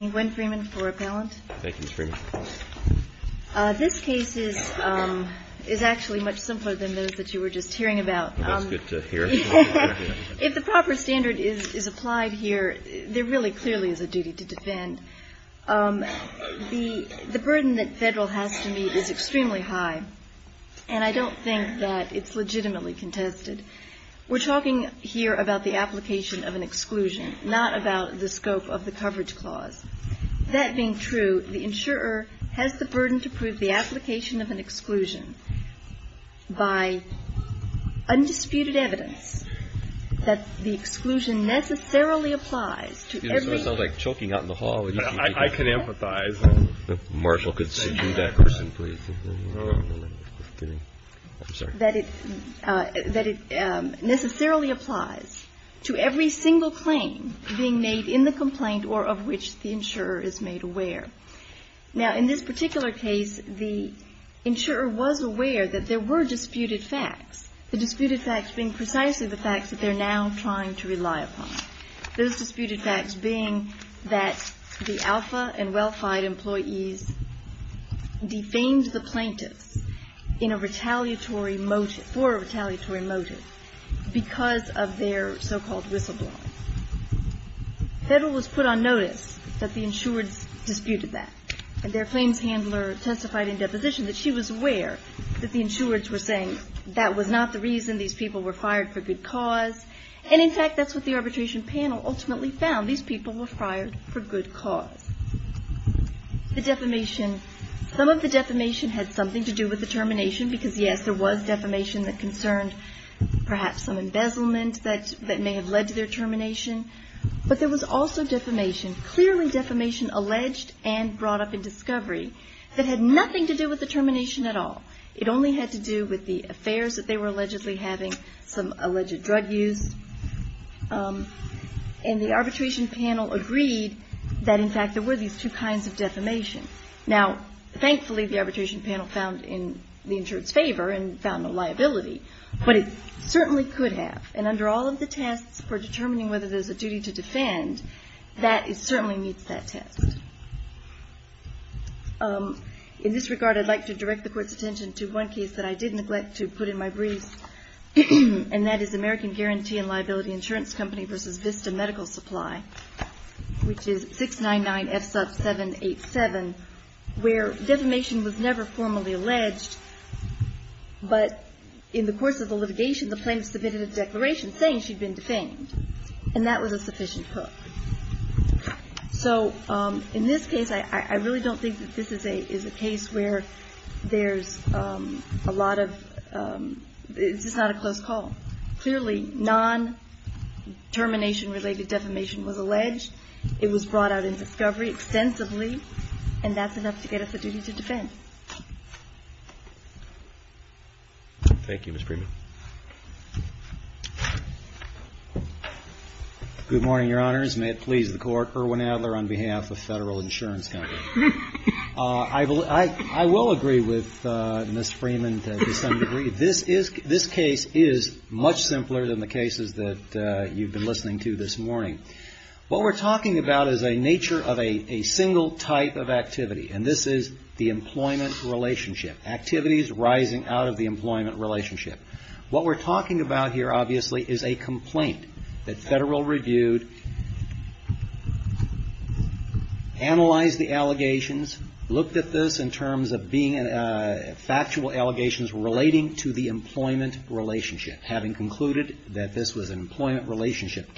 Thank you, Ms. Freeman. MS. FREEMAN This case is actually much simpler than those that you were just hearing about. MR. THERAPEUTIC That's good to hear. MS. FREEMAN If the proper standard is applied here, there really clearly is a duty to defend. The burden that Federal has to meet is extremely high, and I don't think that it's legitimately contested. We're talking here about the application of an exclusion, not about the scope of the MS. FREEMAN I'm sorry. MR. THERAPEUTIC I'm sorry. MS. FREEMAN That being true, the insurer has the burden to prove the application of an exclusion by undisputed evidence that the exclusion necessarily applies to every single MR. THERAPEUTIC Excuse me, this is going to sound like choking out in the hall. MR. THERAPEUTIC I can empathize. MR. THERAPEUTIC The marshal could subdue that person, please. MR. THERAPEUTIC I'm sorry. MS. FREEMAN That it necessarily applies to every single claim being made in the complaint MR. THERAPEUTIC I'm sorry. MS. FREEMAN Now, in this particular case, the insurer was aware that there were disputed facts, the disputed facts being precisely the facts that they're now trying to rely upon, those disputed facts being that the alpha and well-fied employees defamed the plaintiffs in a retaliatory motive, for a retaliatory motive, because of their so-called whistleblowing. Federal was put on notice that the insurer disputed that. And their claims handler testified in deposition that she was aware that the insurers were saying that was not the reason these people were fired for good cause. And, in fact, that's what the arbitration panel ultimately found. These people were fired for good cause. The defamation, some of the defamation had something to do with the termination, because, yes, there was defamation that concerned perhaps some embezzlement that may have led to their termination. But there was also defamation, clearly defamation alleged and brought up in discovery, that had nothing to do with the termination at all. It only had to do with the affairs that they were allegedly having, some alleged drug use. And the arbitration panel agreed that, in fact, there were these two kinds of defamation. Now, thankfully, the arbitration panel found the insurer's favor and found no liability. But it certainly could have. And under all of the tests for determining whether there's a duty to defend, that certainly meets that test. In this regard, I'd like to direct the Court's attention to one case that I did neglect to put in my brief, and that is American Guarantee and Liability Insurance Company v. Vista Medical Supply, which is 699 F. Sub. 787, where defamation was never formally alleged. But in the course of the litigation, the plaintiff submitted a declaration saying she'd been defamed. And that was a sufficient proof. So, in this case, I really don't think that this is a case where there's a lot of – it's just not a close call. Clearly, non-termination-related defamation was alleged. It was brought out in discovery extensively, and that's enough to get us a duty to defend. Thank you, Ms. Freeman. Good morning, Your Honors. May it please the Court, Erwin Adler on behalf of Federal Insurance Company. I will agree with Ms. Freeman to some degree. This case is much simpler than the cases that you've been listening to this morning. What we're talking about is a nature of a single type of activity, and this is the employment relationship, activities rising out of the employment relationship. What we're talking about here, obviously, is a complaint that Federal reviewed, analyzed the allegations, looked at this in terms of being factual allegations relating to the employment relationship, having concluded that this was an employment relationship.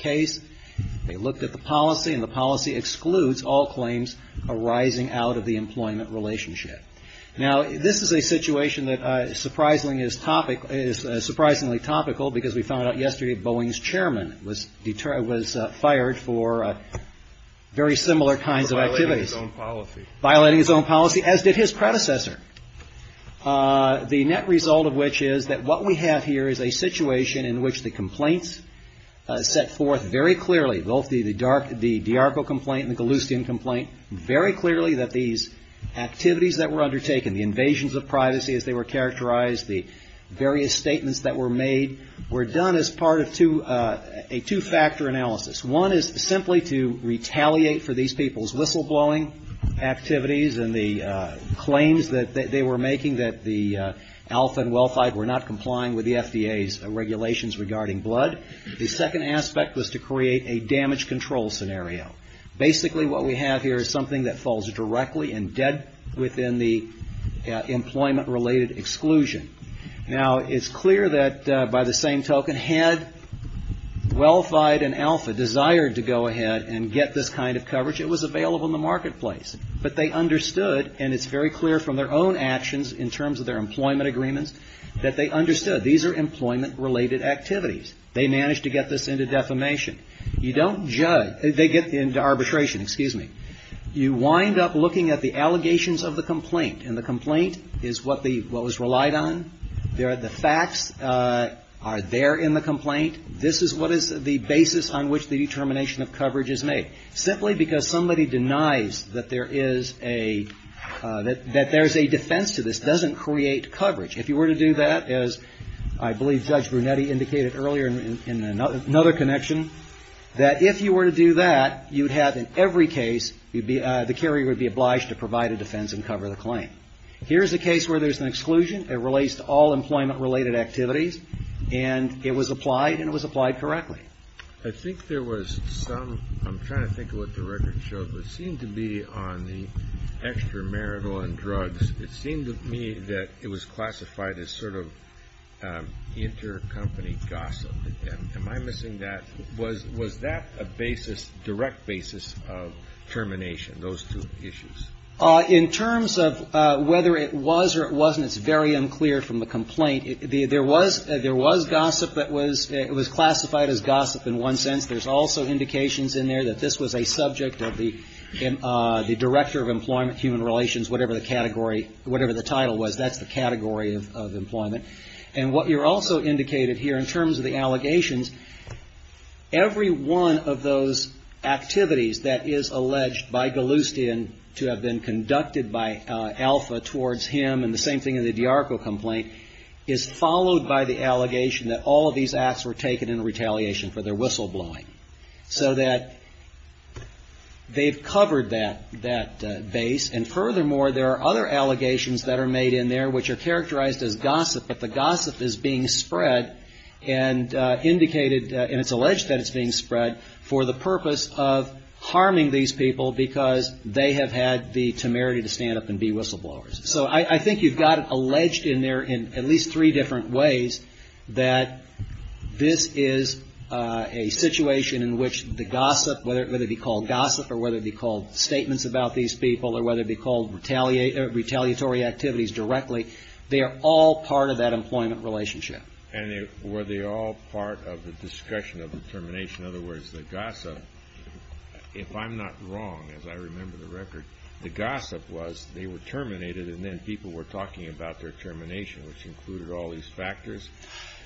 Now, this is a situation that is surprisingly topical, because we found out yesterday that Boeing's chairman was fired for very similar kinds of activities. Violating his own policy, as did his predecessor. The net result of which is that what we have here is a situation in which the complaints set forth very clearly, both the DRC complaint and the Federal complaint, are very clearly that these activities that were undertaken, the invasions of privacy as they were characterized, the various statements that were made, were done as part of a two-factor analysis. One is simply to retaliate for these people's whistleblowing activities and the claims that they were making that the Alpha and Welfide were not complying with the FDA's regulations regarding blood. The second aspect was to basically what we have here is something that falls directly and dead within the employment-related exclusion. Now, it's clear that by the same token, had Welfide and Alpha desired to go ahead and get this kind of coverage, it was available in the marketplace. But they understood, and it's very clear from their own actions in terms of their employment agreements, that they understood these are employment-related activities. They managed to get this into defamation. You don't judge. They get into arbitration, but you don't arbitrate. You wind up looking at the allegations of the complaint, and the complaint is what was relied on. The facts are there in the complaint. This is what is the basis on which the determination of coverage is made. Simply because somebody denies that there is a defense to this doesn't create coverage. If you were to do that, as I believe Judge Brunetti indicated earlier in another connection, that if you were to do that, you would have in every case, the carrier would be obliged to provide a defense and cover the claim. Here's a case where there's an exclusion. It relates to all employment-related activities, and it was applied, and it was applied correctly. I think there was some, I'm trying to think of what the record showed, but it seemed to be on the extramarital and drugs. It seemed to me that it was classified as sort of intercompany gossip. Am I missing that? Was that a basis on which the determination of coverage was made? Or was this direct basis of termination, those two issues? In terms of whether it was or it wasn't, it's very unclear from the complaint. There was gossip that was classified as gossip in one sense. There's also indications in there that this was a subject of the Director of Employment, Human Relations, whatever the category, whatever the title was. That's the category of employment. And what you're also indicated here in terms of the allegations, every one of those allegations, those activities that is alleged by Galustian to have been conducted by Alpha towards him, and the same thing in the DiArco complaint, is followed by the allegation that all of these acts were taken in retaliation for their whistleblowing. So that they've covered that base. And furthermore, there are other allegations that are made in there which are characterized as gossip, but the gossip is being spread and indicated, and it's alleged that it's being spread, for the purpose of harming these people because they have had the temerity to stand up and be whistleblowers. So I think you've got it alleged in there in at least three different ways that this is a situation in which the gossip, whether it be called gossip or whether it be called statements about these people or whether it be called retaliatory activities directly, they are all part of that employment relationship. And were they all part of the discussion of the termination? In other words, the gossip, if I'm not wrong, as I remember the record, the gossip was they were terminated and then people were talking about their termination, which included all these factors.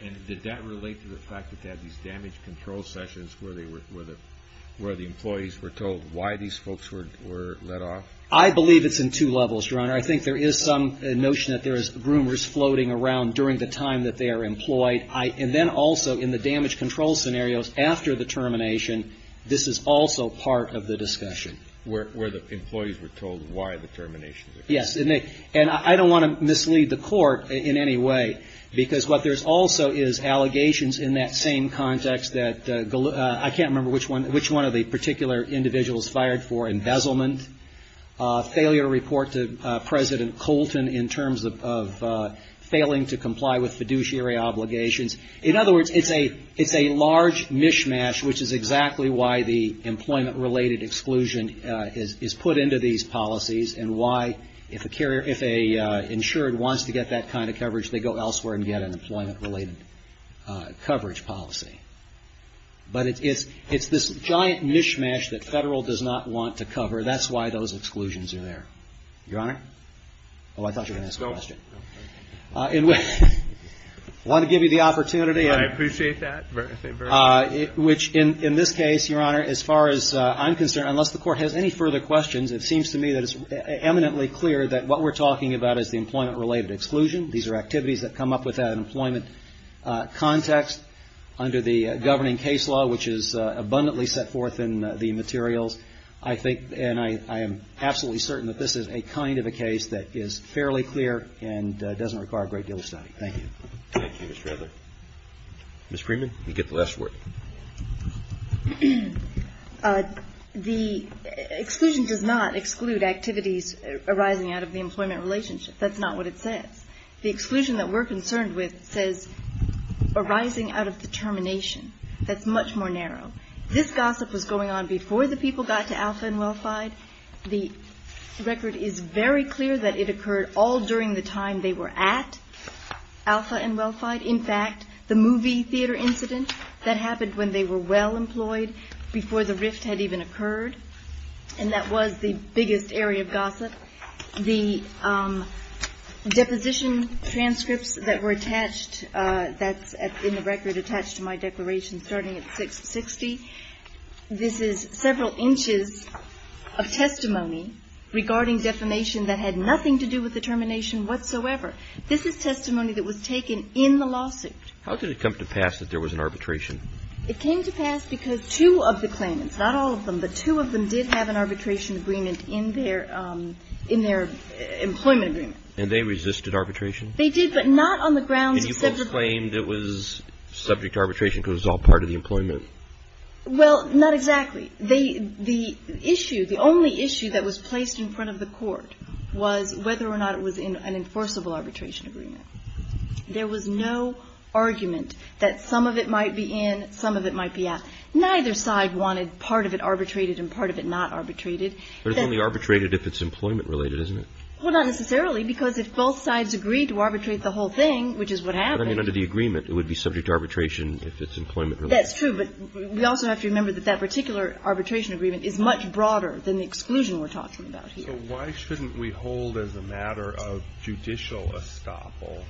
And did that relate to the fact that they had these damage control sessions where the employees were told why these folks were let off? I believe it's in two levels, Your Honor. I think there is some notion that there is rumors floating around during the time that they are employed. And then also in the damage control scenarios after the termination, this is also part of the discussion. Where the employees were told why the termination occurred. Yes. And I don't want to mislead the Court in any way, because what there's also is allegations in that same context that I can't remember which one of the particular individuals fired for embezzlement, failure to report to President Colton in terms of failing to comply with fiduciary obligations. In other words, it's a large mishmash, which is exactly why the employment-related exclusion is put into these policies and why if an insured wants to get that kind of coverage, they go elsewhere and get an employment-related coverage policy. But it's this giant mishmash that Federal does not want to cover. That's why those exclusions are there. Your Honor? Oh, I thought you were going to ask a question. I want to give you the opportunity. I appreciate that. In this case, Your Honor, as far as I'm concerned, unless the Court has any further questions, it seems to me that it's eminently clear that what we're looking at is a case that is fairly clear and doesn't require a great deal of study. I think that the exclusion does not exclude activities that come up without an employment context under the governing case law, which is abundantly set forth in the materials. I think, and I am absolutely certain, that this is a kind of a case that is fairly clear and doesn't require a great deal of study. Thank you. Thank you, Mr. Edler. Ms. Freeman, you get the last word. The exclusion does not exclude activities arising out of the employment relationship. That's not what it says. The exclusion that we're concerned with says arising out of the termination. That's much more narrow. This gossip was going on before the people got to Alpha and Welfide. The record is very clear that it occurred all during the time they were at Alpha and Welfide. In fact, the movie theater incident, that happened when they were well-employed, before the rift had even occurred, and that was the biggest area of gossip. The deposition transcripts that were attached, that's in the record attached to my declaration starting at 660, this is several inches of testimony regarding defamation that had nothing to do with the termination whatsoever. This is testimony that was taken in the lawsuit. How did it come to pass that there was an arbitration? It came to pass because two of the claimants, not all of them, but two of them did have an arbitration agreement in their employment agreement. And they resisted arbitration? They did, but not on the grounds of separate... Well, not exactly. The issue, the only issue that was placed in front of the court was whether or not it was an enforceable arbitration agreement. There was no argument that some of it might be in, some of it might be out. Neither side wanted part of it arbitrated and part of it not arbitrated. But it's only arbitrated if it's employment related, isn't it? Well, not necessarily, because if both sides agreed to arbitrate the whole thing, which is what happened... But I mean under the agreement, it would be subject to arbitration if it's employment related. That's true, but we also have to remember that that particular arbitration agreement is much broader than the exclusion we're talking about here. So why shouldn't we hold as a matter of judicial estoppel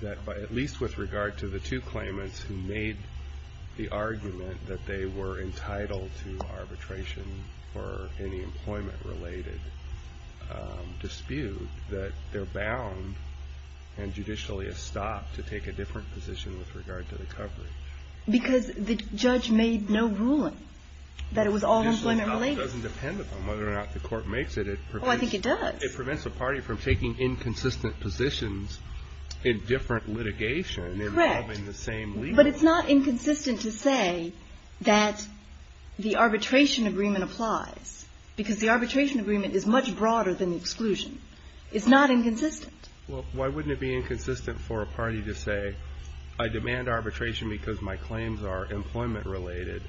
that at least with regard to the two claimants who made the argument that they were entitled to arbitration for any kind of arbitration? Why shouldn't we hold as a matter of judicial estoppel that the two claimants who made the argument that they were entitled to arbitration for any kind of arbitration for any kind of arbitration for any employment related dispute that they're bound and judicially estopped to take a different position with regard to the coverage? Because the judge made no ruling that it was all employment related. Judicially estoppel doesn't depend on whether or not the court makes it. Oh, I think it does. It prevents a party from taking inconsistent positions in different litigation and having the same legal... Because the arbitration agreement is much broader than the exclusion. It's not inconsistent. Well, why wouldn't it be inconsistent for a party to say, I demand arbitration because my claims are employment related,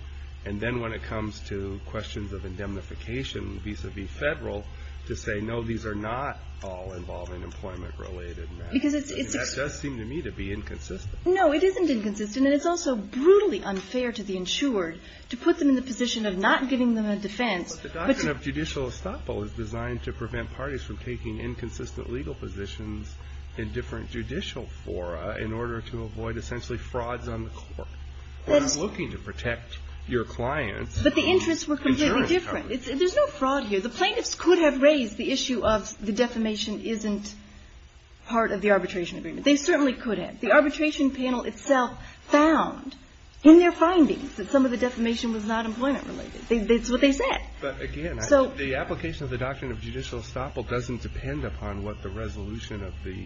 and then when it comes to questions of indemnification vis-a-vis Federal, to say, no, these are not all involving employment related matters. That does seem to me to be inconsistent. No, it isn't inconsistent, and it's also brutally unfair to the insured to put them in the position of not giving them a defense. But the doctrine of judicial estoppel is designed to prevent parties from taking inconsistent legal positions in different judicial fora in order to avoid essentially frauds on the court. We're not looking to protect your clients. But the interests were completely different. There's no fraud here. The plaintiffs could have raised the issue of the defamation isn't part of the arbitration agreement. They certainly could have. The arbitration panel itself found in their findings that some of the defamation was not employment related. It's what they said. But again, the application of the doctrine of judicial estoppel doesn't depend upon what the resolution of the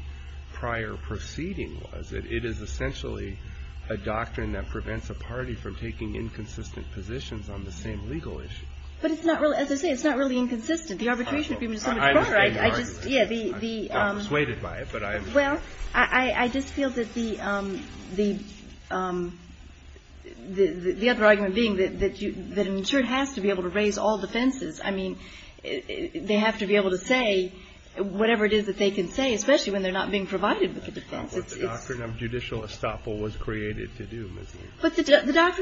prior proceeding was. It is essentially a doctrine that prevents a party from taking inconsistent positions on the same legal issue. But it's not really, as I say, it's not really inconsistent. The arbitration agreement is so much broader. I just feel that the other argument being that an insured has to be able to raise all defenses. I mean, they have to be able to say whatever it is that they can say, especially when they're not being provided with a defense. But the doctrine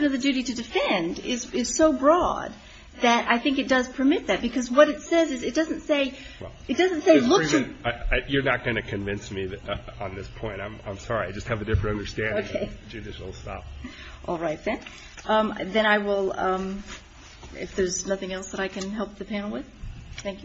of the duty to defend is so broad that I think it does permit that. Because what it says is it doesn't say it doesn't say you're not going to convince me that on this point, I'm sorry. I just have a different understanding of judicial estoppel. If there's nothing else that I can help the panel with. Thank you. Thank you.